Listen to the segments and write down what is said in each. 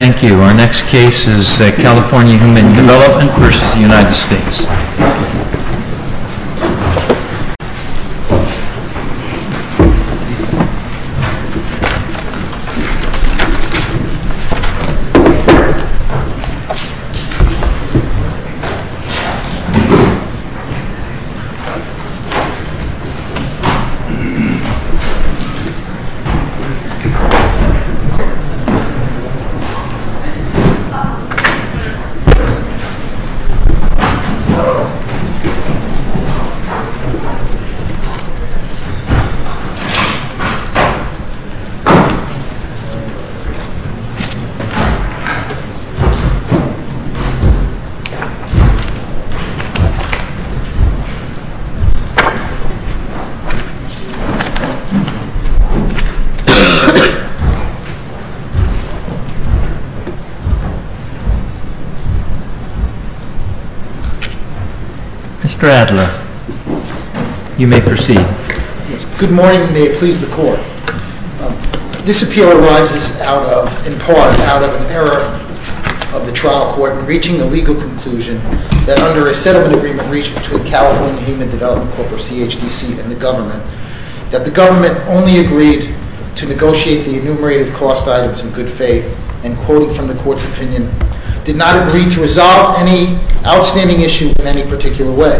Thank you. Our next case is California Human Development v. United States. Mr. Adler, you may proceed. Good morning, and may it please the Court. This appeal arises in part out of an error of the trial court in reaching a legal conclusion that under a settlement agreement reached between California Human Development Corp. or CHDC and the government, that the government only agreed to negotiate the enumerated cost items in good faith, and quoting from the Court's opinion, did not agree to resolve any outstanding issue in any particular way.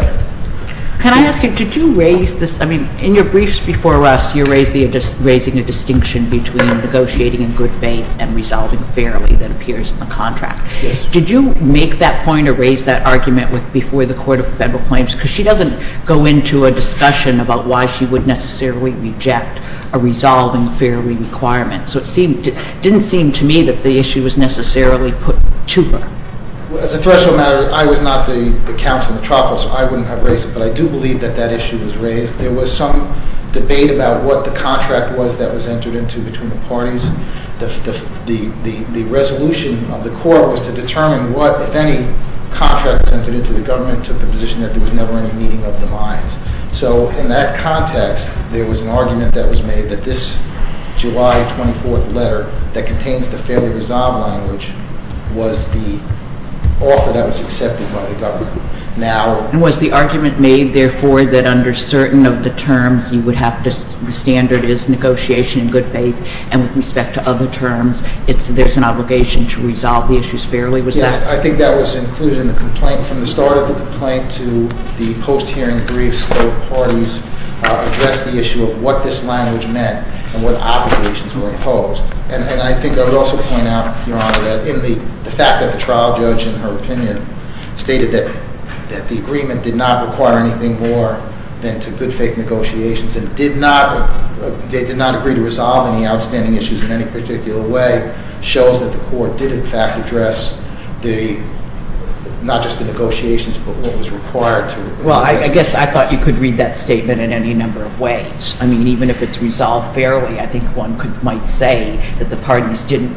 Can I ask you, did you raise this, I mean, in your briefs before us, you raised the, raising a distinction between negotiating in good faith and resolving fairly that appears in the contract. Yes. Did you make that point or raise that argument with, before the Court of Federal Claims? Because she doesn't go into a discussion about why she would necessarily reject a resolving fairly requirement. So it didn't seem to me that the issue was necessarily put to her. Well, as a threshold matter, I was not the counsel in the trial court, so I wouldn't have raised it, but I do believe that that issue was raised. There was some debate about what the contract was that was entered into between the parties. The resolution of the court was to determine what, if any, contract was entered into, the government took the And was the argument made, therefore, that under certain of the terms, you would have to, the standard is negotiation in good faith, and with respect to other terms, it's, there's an obligation to resolve the issues fairly? Yes, I think that was included in the complaint. From the start of the complaint to the post-hearing briefs, both parties addressed the issue of whether or not there was an obligation to resolve the issues fairly. What this language meant, and what obligations were imposed. And I think I would also point out, Your Honor, that in the fact that the trial judge, in her opinion, stated that the agreement did not require anything more than to good faith negotiations, and did not, did not agree to resolve any outstanding issues in any particular way, shows that the court did, in fact, address the, not just the negotiations, but what was required to resolve the issues. Yes, I thought you could read that statement in any number of ways. I mean, even if it's resolved fairly, I think one could, might say that the parties didn't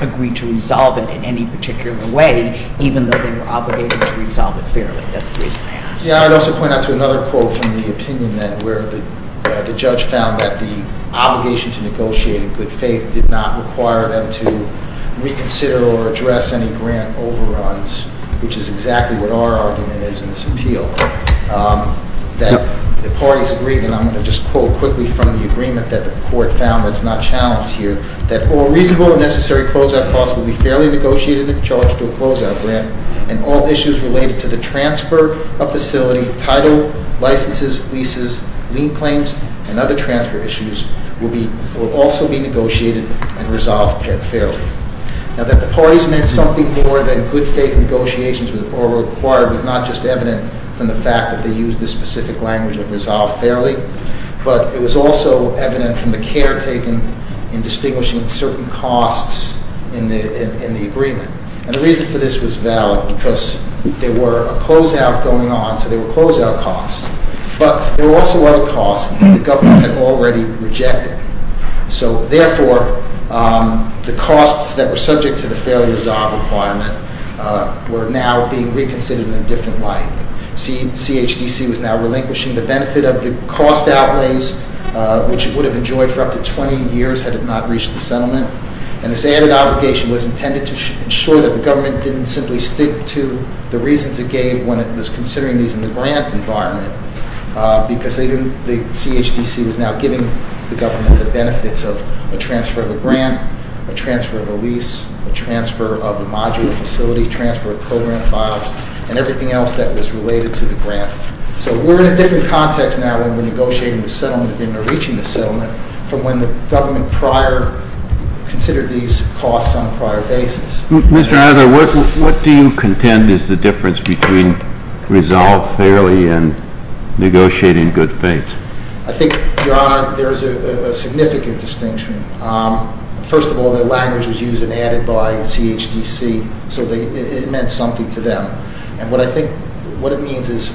agree to resolve it in any particular way, even though they were obligated to resolve it fairly. That's the reason I asked. Yeah, I'd also point out to another quote from the opinion that, where the judge found that the obligation to negotiate in good faith did not require them to reconsider or address any grant overruns, which is exactly what our argument is in this appeal. That the parties agreed, and I'm going to just quote quickly from the agreement that the court found that's not challenged here, that all reasonable and necessary closeout costs will be fairly negotiated and charged to a closeout grant, and all issues related to the transfer of facility, title, licenses, leases, lien claims, and other transfer issues will be, will also be negotiated and resolved fairly. Now that the parties meant something more than good faith negotiations were required was not just evident from the fact that they used this specific language of resolve fairly, but it was also evident from the care taken in distinguishing certain costs in the agreement. And the reason for this was valid because there were a closeout going on, so there were closeout costs, but there were also other costs that the government had already rejected. So therefore, the costs that were subject to the fairly resolved requirement were now being reconsidered in a different light. CHDC was now relinquishing the benefit of the cost outlays, which it would have enjoyed for up to 20 years had it not reached the settlement. And this added obligation was intended to ensure that the government didn't simply stick to the reasons it gave when it was considering these in the grant environment. Because the CHDC was now giving the government the benefits of a transfer of a grant, a transfer of a lease, a transfer of a modular facility, transfer of program files, and everything else that was related to the grant. So we're in a different context now when we're negotiating the settlement and reaching the settlement from when the government prior considered these costs on a prior basis. Mr. Iser, what do you contend is the difference between resolved fairly and negotiating good faith? I think, Your Honor, there is a significant distinction. First of all, the language was used and added by CHDC, so it meant something to them. And what I think what it means is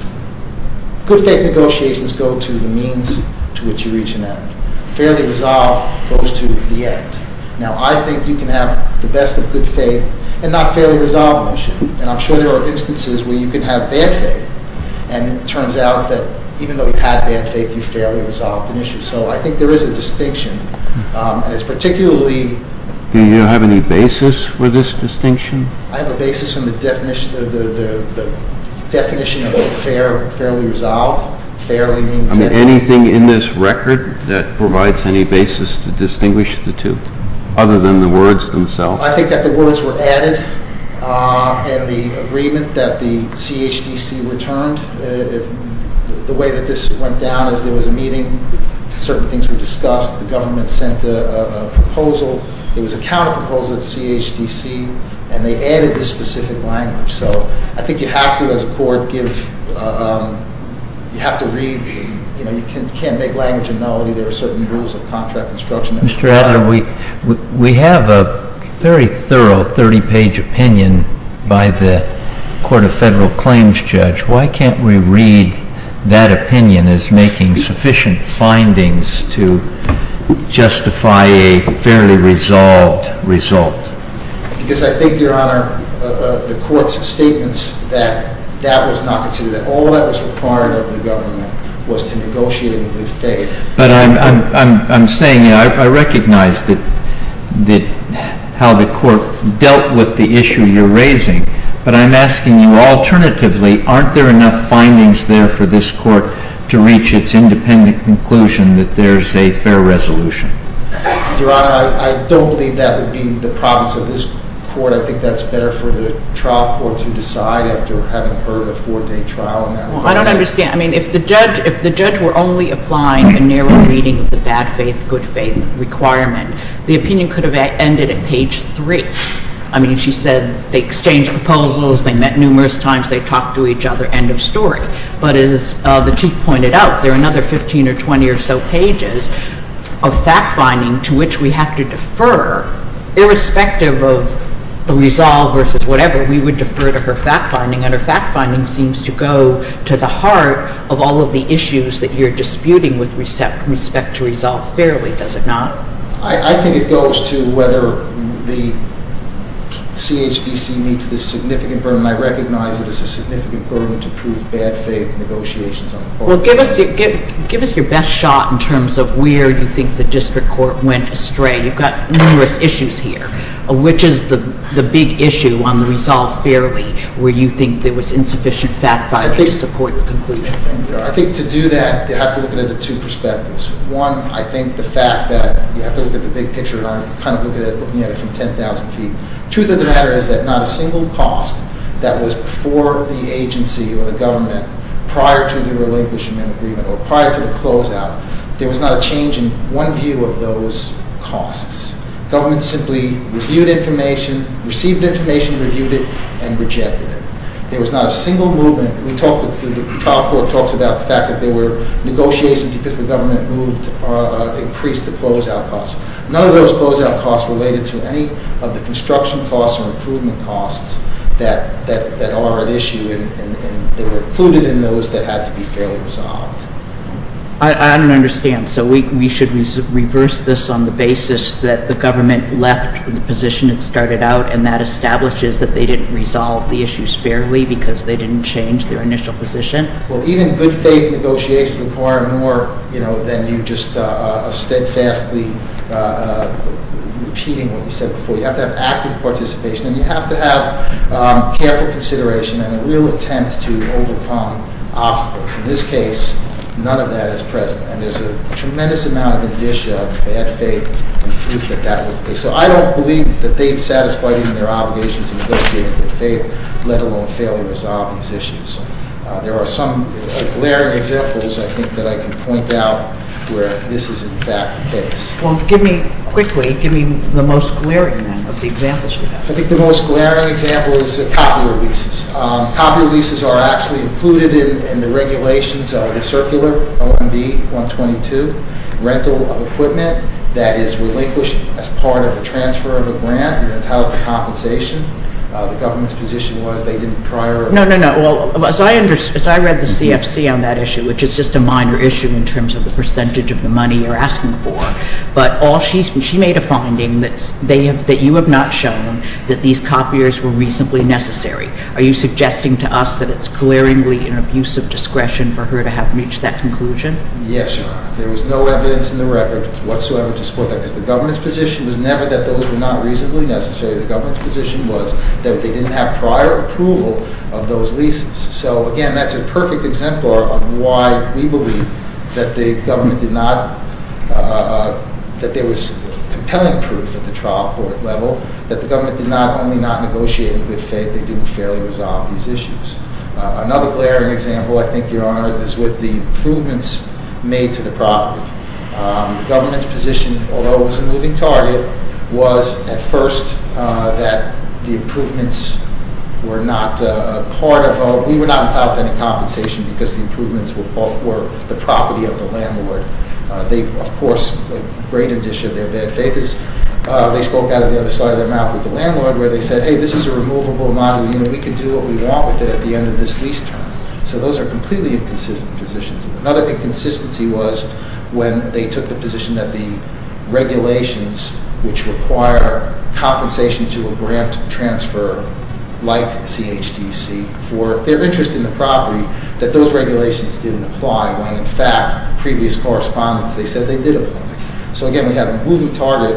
good faith negotiations go to the means to which you reach an end. Fairly resolved goes to the end. Now, I think you can have the best of good faith and not a fairly resolved issue. And I'm sure there are instances where you can have bad faith. And it turns out that even though you had bad faith, you fairly resolved an issue. So I think there is a distinction. And it's particularly- Do you have any basis for this distinction? I have a basis in the definition of a fairly resolved. Fairly means that- Anything in this record that provides any basis to distinguish the two other than the words themselves? I think that the words were added and the agreement that the CHDC returned. The way that this went down is there was a meeting. Certain things were discussed. The government sent a proposal. It was a counterproposal to CHDC. And they added the specific language. So I think you have to, as a court, you have to read. You can't make language and know that there are certain rules of contract construction. Mr. Adler, we have a very thorough 30-page opinion by the Court of Federal Claims judge. Why can't we read that opinion as making sufficient findings to justify a fairly resolved result? Because I think, Your Honor, the Court's statements that that was not considered. All that was required of the government was to negotiate in good faith. But I'm saying I recognize how the Court dealt with the issue you're raising. But I'm asking you, alternatively, aren't there enough findings there for this Court to reach its independent conclusion that there's a fair resolution? Your Honor, I don't believe that would be the promise of this Court. I think that's better for the trial court to decide after having heard a four-day trial. Well, I don't understand. I mean, if the judge were only applying a narrow reading of the bad faith, good faith requirement, the opinion could have ended at page 3. I mean, she said they exchanged proposals. They met numerous times. They talked to each other. End of story. But as the Chief pointed out, there are another 15 or 20 or so pages of fact-finding to which we have to defer. Irrespective of the resolve versus whatever, we would defer to her fact-finding. And her fact-finding seems to go to the heart of all of the issues that you're disputing with respect to resolve fairly, does it not? I think it goes to whether the CHDC meets this significant burden. And I recognize that it's a significant burden to prove bad faith negotiations on the part of the judge. Well, give us your best shot in terms of where you think the district court went astray. You've got numerous issues here. Which is the big issue on the resolve fairly where you think there was insufficient fact-finding to support the conclusion? I think to do that, you have to look at it in two perspectives. One, I think the fact that you have to look at the big picture, and I'm kind of looking at it from 10,000 feet. Truth of the matter is that not a single cost that was for the agency or the government prior to the relinquishment agreement or prior to the closeout, there was not a change in one view of those costs. Government simply reviewed information, received information, reviewed it, and rejected it. There was not a single movement. The trial court talks about the fact that there were negotiations because the government increased the closeout costs. None of those closeout costs related to any of the construction costs or improvement costs that are at issue, and they were included in those that had to be fairly resolved. I don't understand. So we should reverse this on the basis that the government left the position it started out, and that establishes that they didn't resolve the issues fairly because they didn't change their initial position? Well, even good faith negotiations require more than you just steadfastly repeating what you said before. You have to have active participation, and you have to have careful consideration and a real attempt to overcome obstacles. In this case, none of that is present, and there's a tremendous amount of indicia of bad faith and proof that that was the case. So I don't believe that they've satisfied even their obligation to negotiate in good faith, let alone fairly resolve these issues. There are some glaring examples, I think, that I can point out where this is, in fact, the case. Well, give me, quickly, give me the most glaring then of the examples you have. I think the most glaring example is the copier leases. Copier leases are actually included in the regulations of the circular OMB-122, rental of equipment that is relinquished as part of a transfer of a grant and entitled to compensation. The government's position was they didn't prior... No, no, no. As I read the CFC on that issue, which is just a minor issue in terms of the percentage of the money you're asking for, but she made a finding that you have not shown that these copiers were reasonably necessary. Are you suggesting to us that it's glaringly an abuse of discretion for her to have reached that conclusion? Yes, Your Honor. There was no evidence in the record whatsoever to support that, because the government's position was never that those were not reasonably necessary. The government's position was that they didn't have prior approval of those leases. So, again, that's a perfect exemplar of why we believe that the government did not... that there was compelling proof at the trial court level that the government did not only not negotiate in good faith, they didn't fairly resolve these issues. Another glaring example, I think, Your Honor, is with the improvements made to the property. The government's position, although it was a moving target, was at first that the improvements were not part of... we were not entitled to any compensation because the improvements were the property of the landlord. They, of course, a great addition of their bad faith is they spoke out of the other side of their mouth with the landlord, where they said, hey, this is a removable model. We can do what we want with it at the end of this lease term. So those are completely inconsistent positions. Another inconsistency was when they took the position that the regulations, which require compensation to a grant transfer like CHDC for their interest in the property, that those regulations didn't apply when, in fact, previous correspondence, they said they did apply. So, again, we had a moving target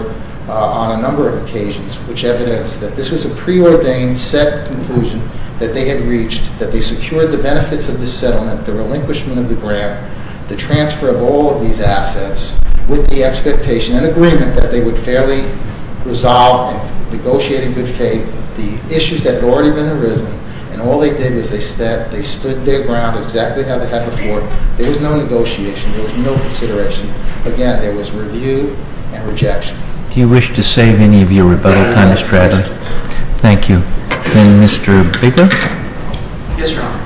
on a number of occasions, which evidenced that this was a preordained, set conclusion that they had reached, that they secured the benefits of the settlement, the relinquishment of the grant, the transfer of all of these assets with the expectation and agreement that they would fairly resolve and negotiate in good faith the issues that had already been arisen, and all they did was they stood their ground exactly how they had before. There was no negotiation. There was no consideration. Again, there was review and rejection. Do you wish to save any of your rebuttal time, Mr. Adler? Yes, please. Thank you. And Mr. Bigelow? Yes, Your Honor.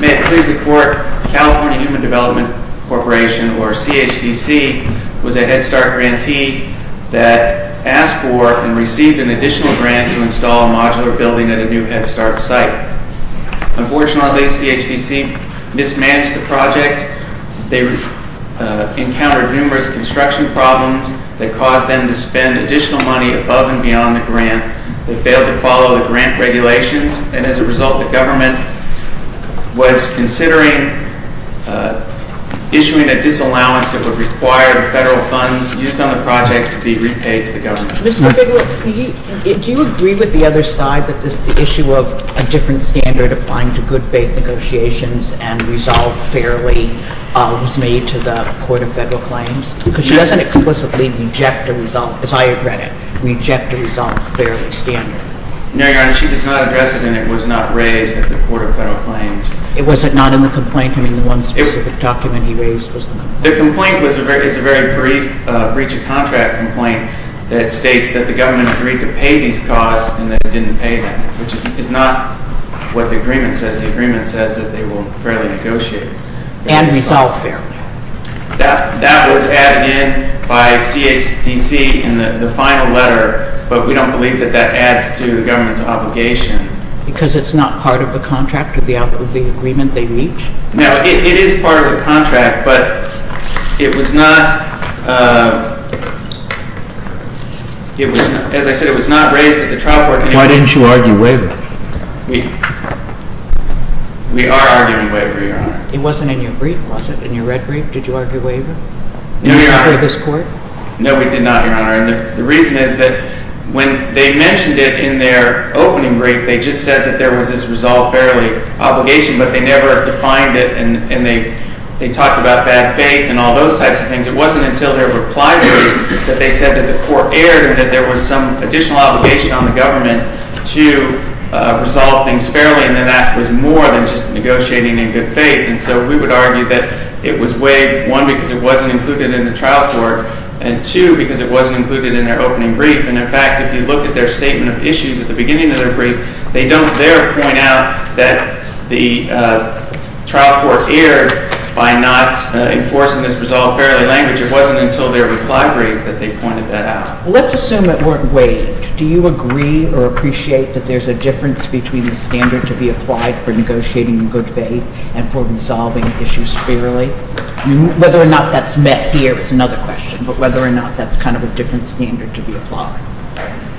May it please the Court, the California Human Development Corporation, or CHDC, was a Head Start grantee that asked for and received an additional grant to install a modular building at a new Head Start site. Unfortunately, CHDC mismanaged the project. They encountered numerous construction problems that caused them to spend additional money above and beyond the grant. They failed to follow the grant regulations, and as a result the government was considering issuing a disallowance that would require the federal funds used on the project to be repaid to the government. Mr. Bigelow, do you agree with the other side, that the issue of a different standard applying to good faith negotiations and resolve fairly was made to the Court of Federal Claims? Because she doesn't explicitly reject a resolve, as I regret it, reject a resolve fairly standard. No, Your Honor. She does not address it, and it was not raised at the Court of Federal Claims. Was it not in the complaint? I mean, the one specific document he raised was the complaint. The complaint is a very brief breach of contract complaint that states that the government agreed to pay these costs and that it didn't pay them, which is not what the agreement says. The agreement says that they will fairly negotiate. And resolve fairly. That was added in by CHDC in the final letter, but we don't believe that that adds to the government's obligation. Because it's not part of the contract or the agreement they reach? No, it is part of the contract, but it was not, as I said, it was not raised at the trial court. Why didn't you argue waiver? We are arguing waiver, Your Honor. It wasn't in your brief, was it, in your red brief? Did you argue waiver? No, Your Honor. Before this Court? No, we did not, Your Honor. And the reason is that when they mentioned it in their opening brief, they just said that there was this resolve fairly obligation, but they never defined it and they talked about bad faith and all those types of things. It wasn't until their reply brief that they said that the Court erred and that there was some additional obligation on the government to resolve things fairly, and that was more than just negotiating in good faith. And so we would argue that it was waived, one, because it wasn't included in the trial court, and two, because it wasn't included in their opening brief. And, in fact, if you look at their statement of issues at the beginning of their brief, they don't there point out that the trial court erred by not enforcing this resolve fairly language. It wasn't until their reply brief that they pointed that out. Let's assume it weren't waived. Do you agree or appreciate that there's a difference between the standard to be applied for negotiating in good faith and for resolving issues fairly? Whether or not that's met here is another question, but whether or not that's kind of a different standard to be applied.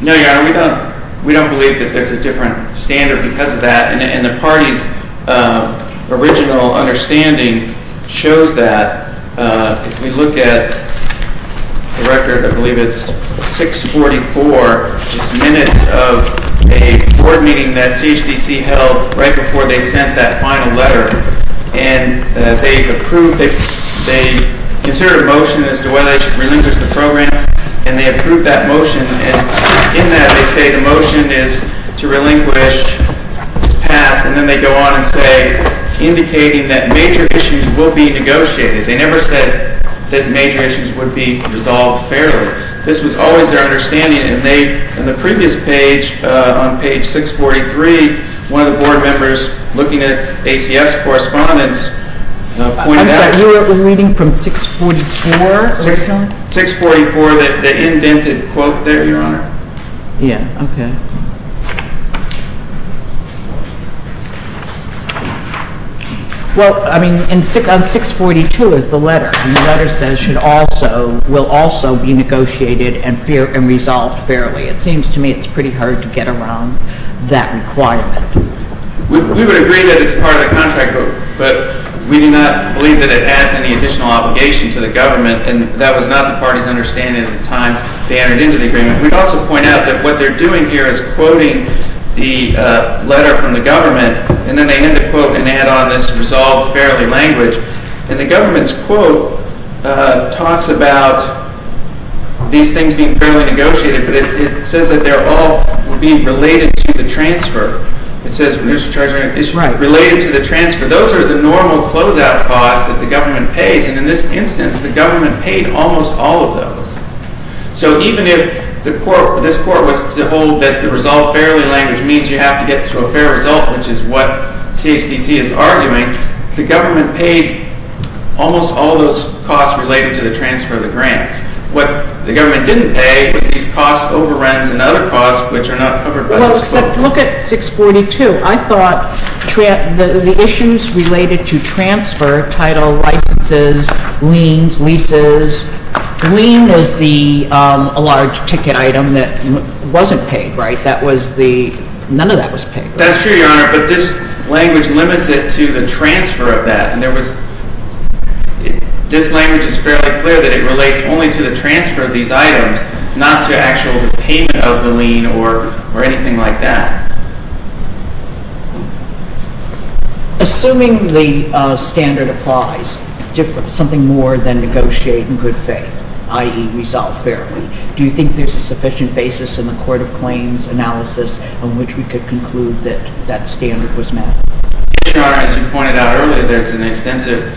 No, Your Honor, we don't. We don't believe that there's a different standard because of that, and the party's original understanding shows that. If we look at the record, I believe it's 644. It's minutes of a board meeting that CHDC held right before they sent that final letter, and they approved it. They considered a motion as to whether they should relinquish the program, and they approved that motion. In that, they say the motion is to relinquish the path, and then they go on and say, indicating that major issues will be negotiated. They never said that major issues would be resolved fairly. This was always their understanding, and they, on the previous page, on page 643, one of the board members looking at ACF's correspondence pointed out. I'm sorry, you were reading from 644 originally? 644, the indented quote there, Your Honor. Yeah, okay. Well, I mean, on 642 is the letter, and the letter says will also be negotiated and resolved fairly. It seems to me it's pretty hard to get around that requirement. We would agree that it's part of the contract book, but we do not believe that it adds any additional obligation to the government, and that was not the party's understanding at the time they entered into the agreement. We'd also point out that what they're doing here is quoting the letter from the government, and then they end the quote and add on this resolved fairly language, and the government's quote talks about these things being fairly negotiated, but it says that they're all being related to the transfer. It says it's related to the transfer. Those are the normal closeout costs that the government pays, and in this instance the government paid almost all of those. So even if this court was to hold that the resolved fairly language means you have to get to a fair result, which is what CHDC is arguing, the government paid almost all those costs related to the transfer of the grants. What the government didn't pay was these costs, overruns, and other costs, which are not covered by this quote. Well, except look at 642. I thought the issues related to transfer, title, licenses, liens, leases, lien was the large ticket item that wasn't paid, right? None of that was paid. That's true, Your Honor, but this language limits it to the transfer of that, and this language is fairly clear that it relates only to the transfer of these items, not to actual payment of the lien or anything like that. Assuming the standard applies, something more than negotiate in good faith, i.e. resolve fairly, do you think there's a sufficient basis in the court of claims analysis on which we could conclude that that standard was met? Yes, Your Honor. As you pointed out earlier, there's an extensive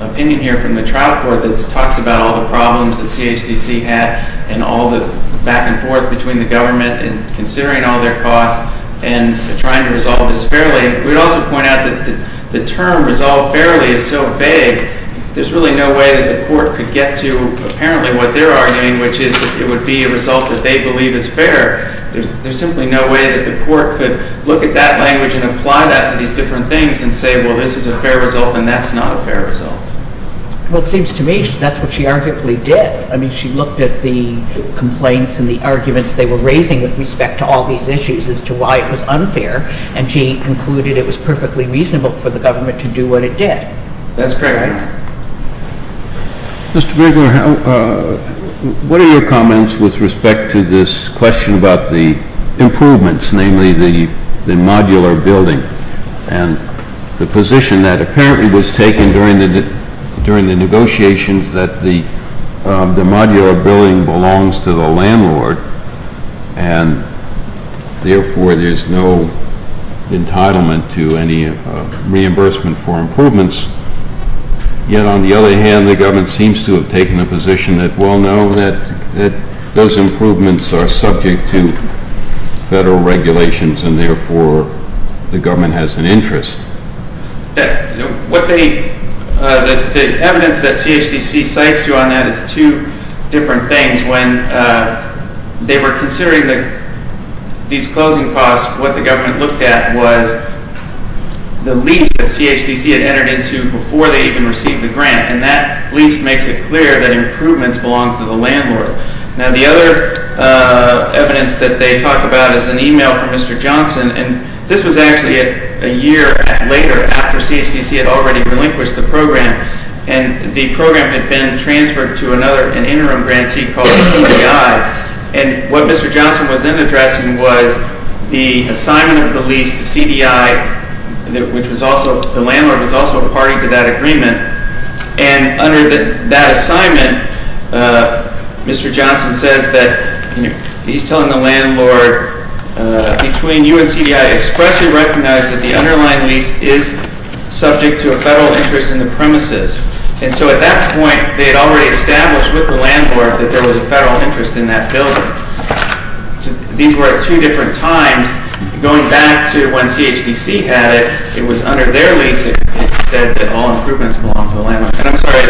opinion here from the trial court that talks about all the problems that CHDC had and all the back and forth between the government and considering all their costs and trying to resolve this fairly. We'd also point out that the term resolve fairly is so vague, there's really no way that the court could get to apparently what they're arguing, which is that it would be a result that they believe is fair. There's simply no way that the court could look at that language and apply that to these different things and say, well, this is a fair result and that's not a fair result. Well, it seems to me that's what she arguably did. I mean, she looked at the complaints and the arguments they were raising with respect to all these issues as to why it was unfair and she concluded it was perfectly reasonable for the government to do what it did. That's correct. Mr. Bregler, what are your comments with respect to this question about the improvements, namely the modular building and the position that apparently was taken during the negotiations that the modular building belongs to the landlord and therefore there's no entitlement to any reimbursement for improvements. Yet, on the other hand, the government seems to have taken a position that, well, no, those improvements are subject to federal regulations and therefore the government has an interest. The evidence that CHDC cites on that is two different things. When they were considering these closing costs, what the government looked at was the lease that CHDC had entered into before they even received the grant and that lease makes it clear that improvements belong to the landlord. Now, the other evidence that they talk about is an email from Mr. Johnson and this was actually a year later after CHDC had already relinquished the program and the program had been transferred to an interim grantee called CDI and what Mr. Johnson was then addressing was the assignment of the lease to CDI, which the landlord was also a party to that agreement, and under that assignment, Mr. Johnson says that he's telling the landlord between you and CDI expressly recognize that the underlying lease is subject to a federal interest in the premises and so at that point they had already established with the landlord that there was a federal interest in that building. These were at two different times. Going back to when CHDC had it, it was under their lease it said that all improvements belong to the landlord and I'm sorry,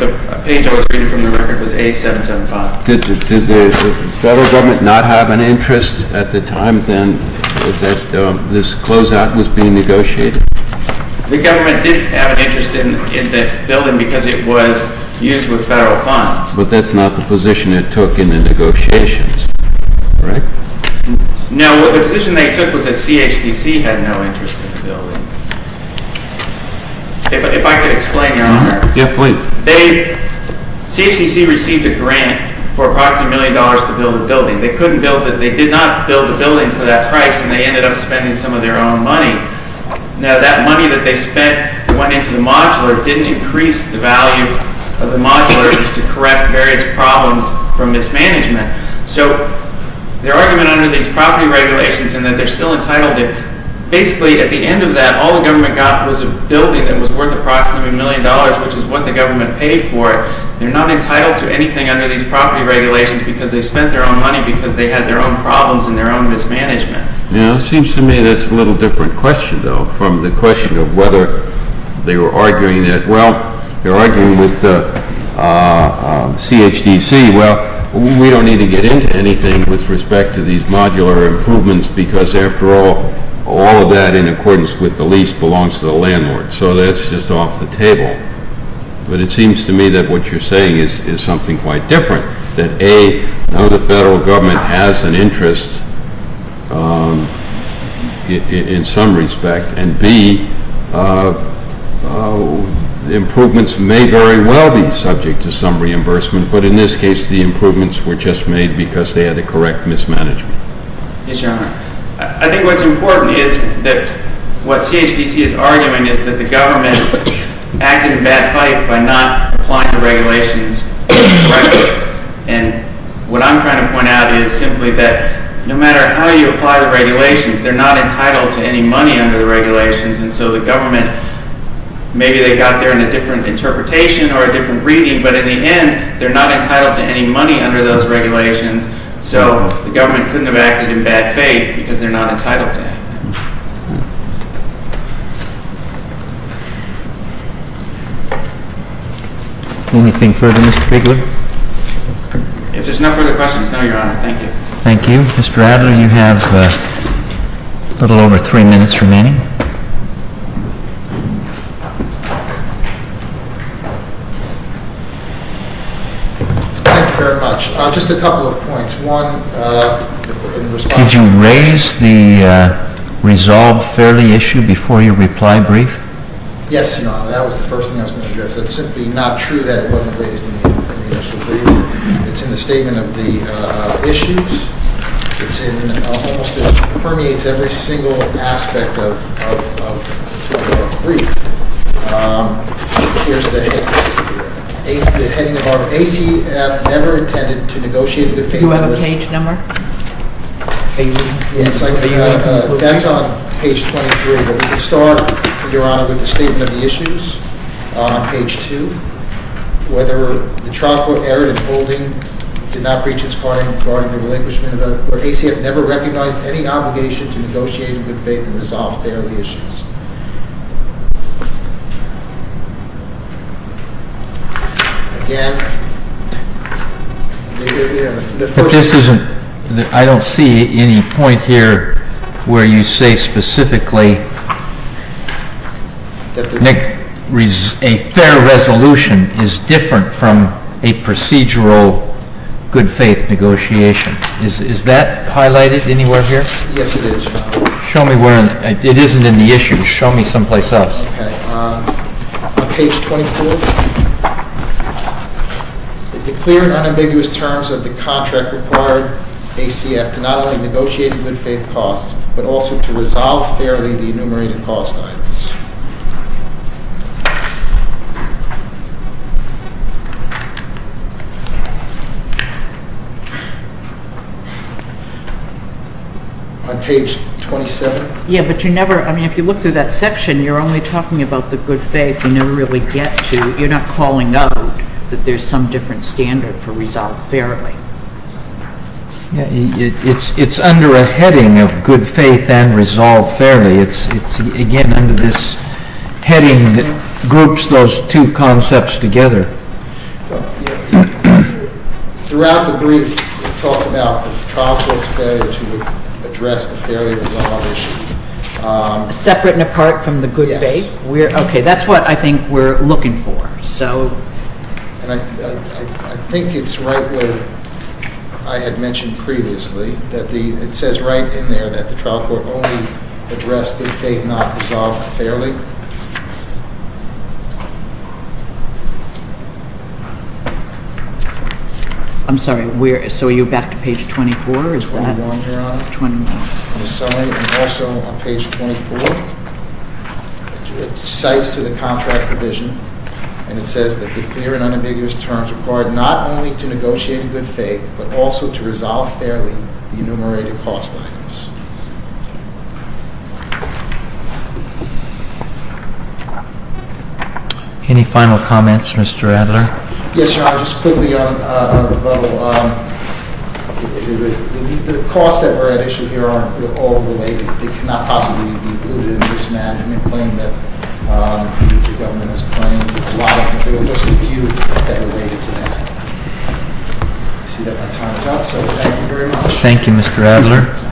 the page I was reading from the record was A-775. Did the federal government not have an interest at the time then that this closeout was being negotiated? The government did have an interest in that building because it was used with federal funds. But that's not the position it took in the negotiations, right? No, the position they took was that CHDC had no interest in the building. If I could explain, Your Honor. Yeah, please. CHDC received a grant for approximately a million dollars to build the building. They couldn't build it. They did not build the building for that price and they ended up spending some of their own money. Now that money that they spent went into the modular, didn't increase the value of the modular just to correct various problems from mismanagement. So their argument under these property regulations and that they're still entitled to, basically at the end of that all the government got was a building that was worth approximately a million dollars, which is what the government paid for it. They're not entitled to anything under these property regulations because they spent their own money, because they had their own problems and their own mismanagement. Yeah, it seems to me that's a little different question though from the question of whether they were arguing that, well, they're arguing with CHDC, well, we don't need to get into anything with respect to these modular improvements because after all, all of that in accordance with the lease belongs to the landlord. So that's just off the table. But it seems to me that what you're saying is something quite different, that A, now the federal government has an interest in some respect and B, the improvements may very well be subject to some reimbursement, but in this case the improvements were just made because they had the correct mismanagement. Yes, Your Honor. I think what's important is that what CHDC is arguing is that the government acted in bad faith by not applying the regulations correctly. And what I'm trying to point out is simply that no matter how you apply the regulations, they're not entitled to any money under the regulations and so the government, maybe they got there in a different interpretation or a different reading, but in the end, they're not entitled to any money under those regulations, so the government couldn't have acted in bad faith because they're not entitled to any money. Anything further, Mr. Bigler? If there's no further questions, no, Your Honor. Thank you. Thank you. Mr. Adler, you have a little over three minutes remaining. Thank you very much. Just a couple of points. One, in response... Did you raise the resolve fairly issue before your reply brief? Yes, Your Honor. That was the first thing I was going to address. It's simply not true that it wasn't raised in the initial brief. It's in the statement of the issues. It's in almost... it permeates every single aspect of the brief. Here's the heading of our... ACF never intended to negotiate in the favor of... Do you have a page number? Yes, I do. That's on page 23. We'll start, Your Honor, with the statement of the issues, page 2. Whether the trial court erred in holding, did not breach its part in regarding the relinquishment of... or ACF never recognized any obligation to negotiate in good faith and resolve fairly issues. Again, the first... But this isn't... I don't see any point here where you say specifically that a fair resolution is different from a procedural good faith negotiation. Is that highlighted anywhere here? Yes, it is, Your Honor. Show me where... it isn't in the issues. Show me someplace else. Okay. On page 24, it declared unambiguous terms of the contract required ACF to not only negotiate in good faith costs, but also to resolve fairly the enumerated cost items. On page 27? Yeah, but you never... I mean, if you look through that section, you're only talking about the good faith. You never really get to... You're not calling out that there's some different standard for resolve fairly. It's under a heading of good faith and resolve fairly. It's, again, under this heading that groups those two concepts together. Throughout the brief, it talks about the trial court's failure to address the fairly resolved issue. Separate and apart from the good faith? Yes. Okay, that's what I think we're looking for. I think it's right where I had mentioned previously. It says right in there that the trial court only addressed the faith not resolved fairly. I'm sorry, so are you back to page 24? 21 here, Your Honor. 21. In the summary and also on page 24, it cites to the contract provision, and it says that the clear and unambiguous terms required not only to negotiate in good faith, but also to resolve fairly the enumerated cost items. Any final comments, Mr. Adler? Yes, Your Honor. Just quickly on the level, the costs that were at issue here aren't all related. They cannot possibly be included in this management claim that the government has claimed. A lot of it was reviewed that related to that. I see that my time's up, so thank you very much. Thank you, Mr. Adler.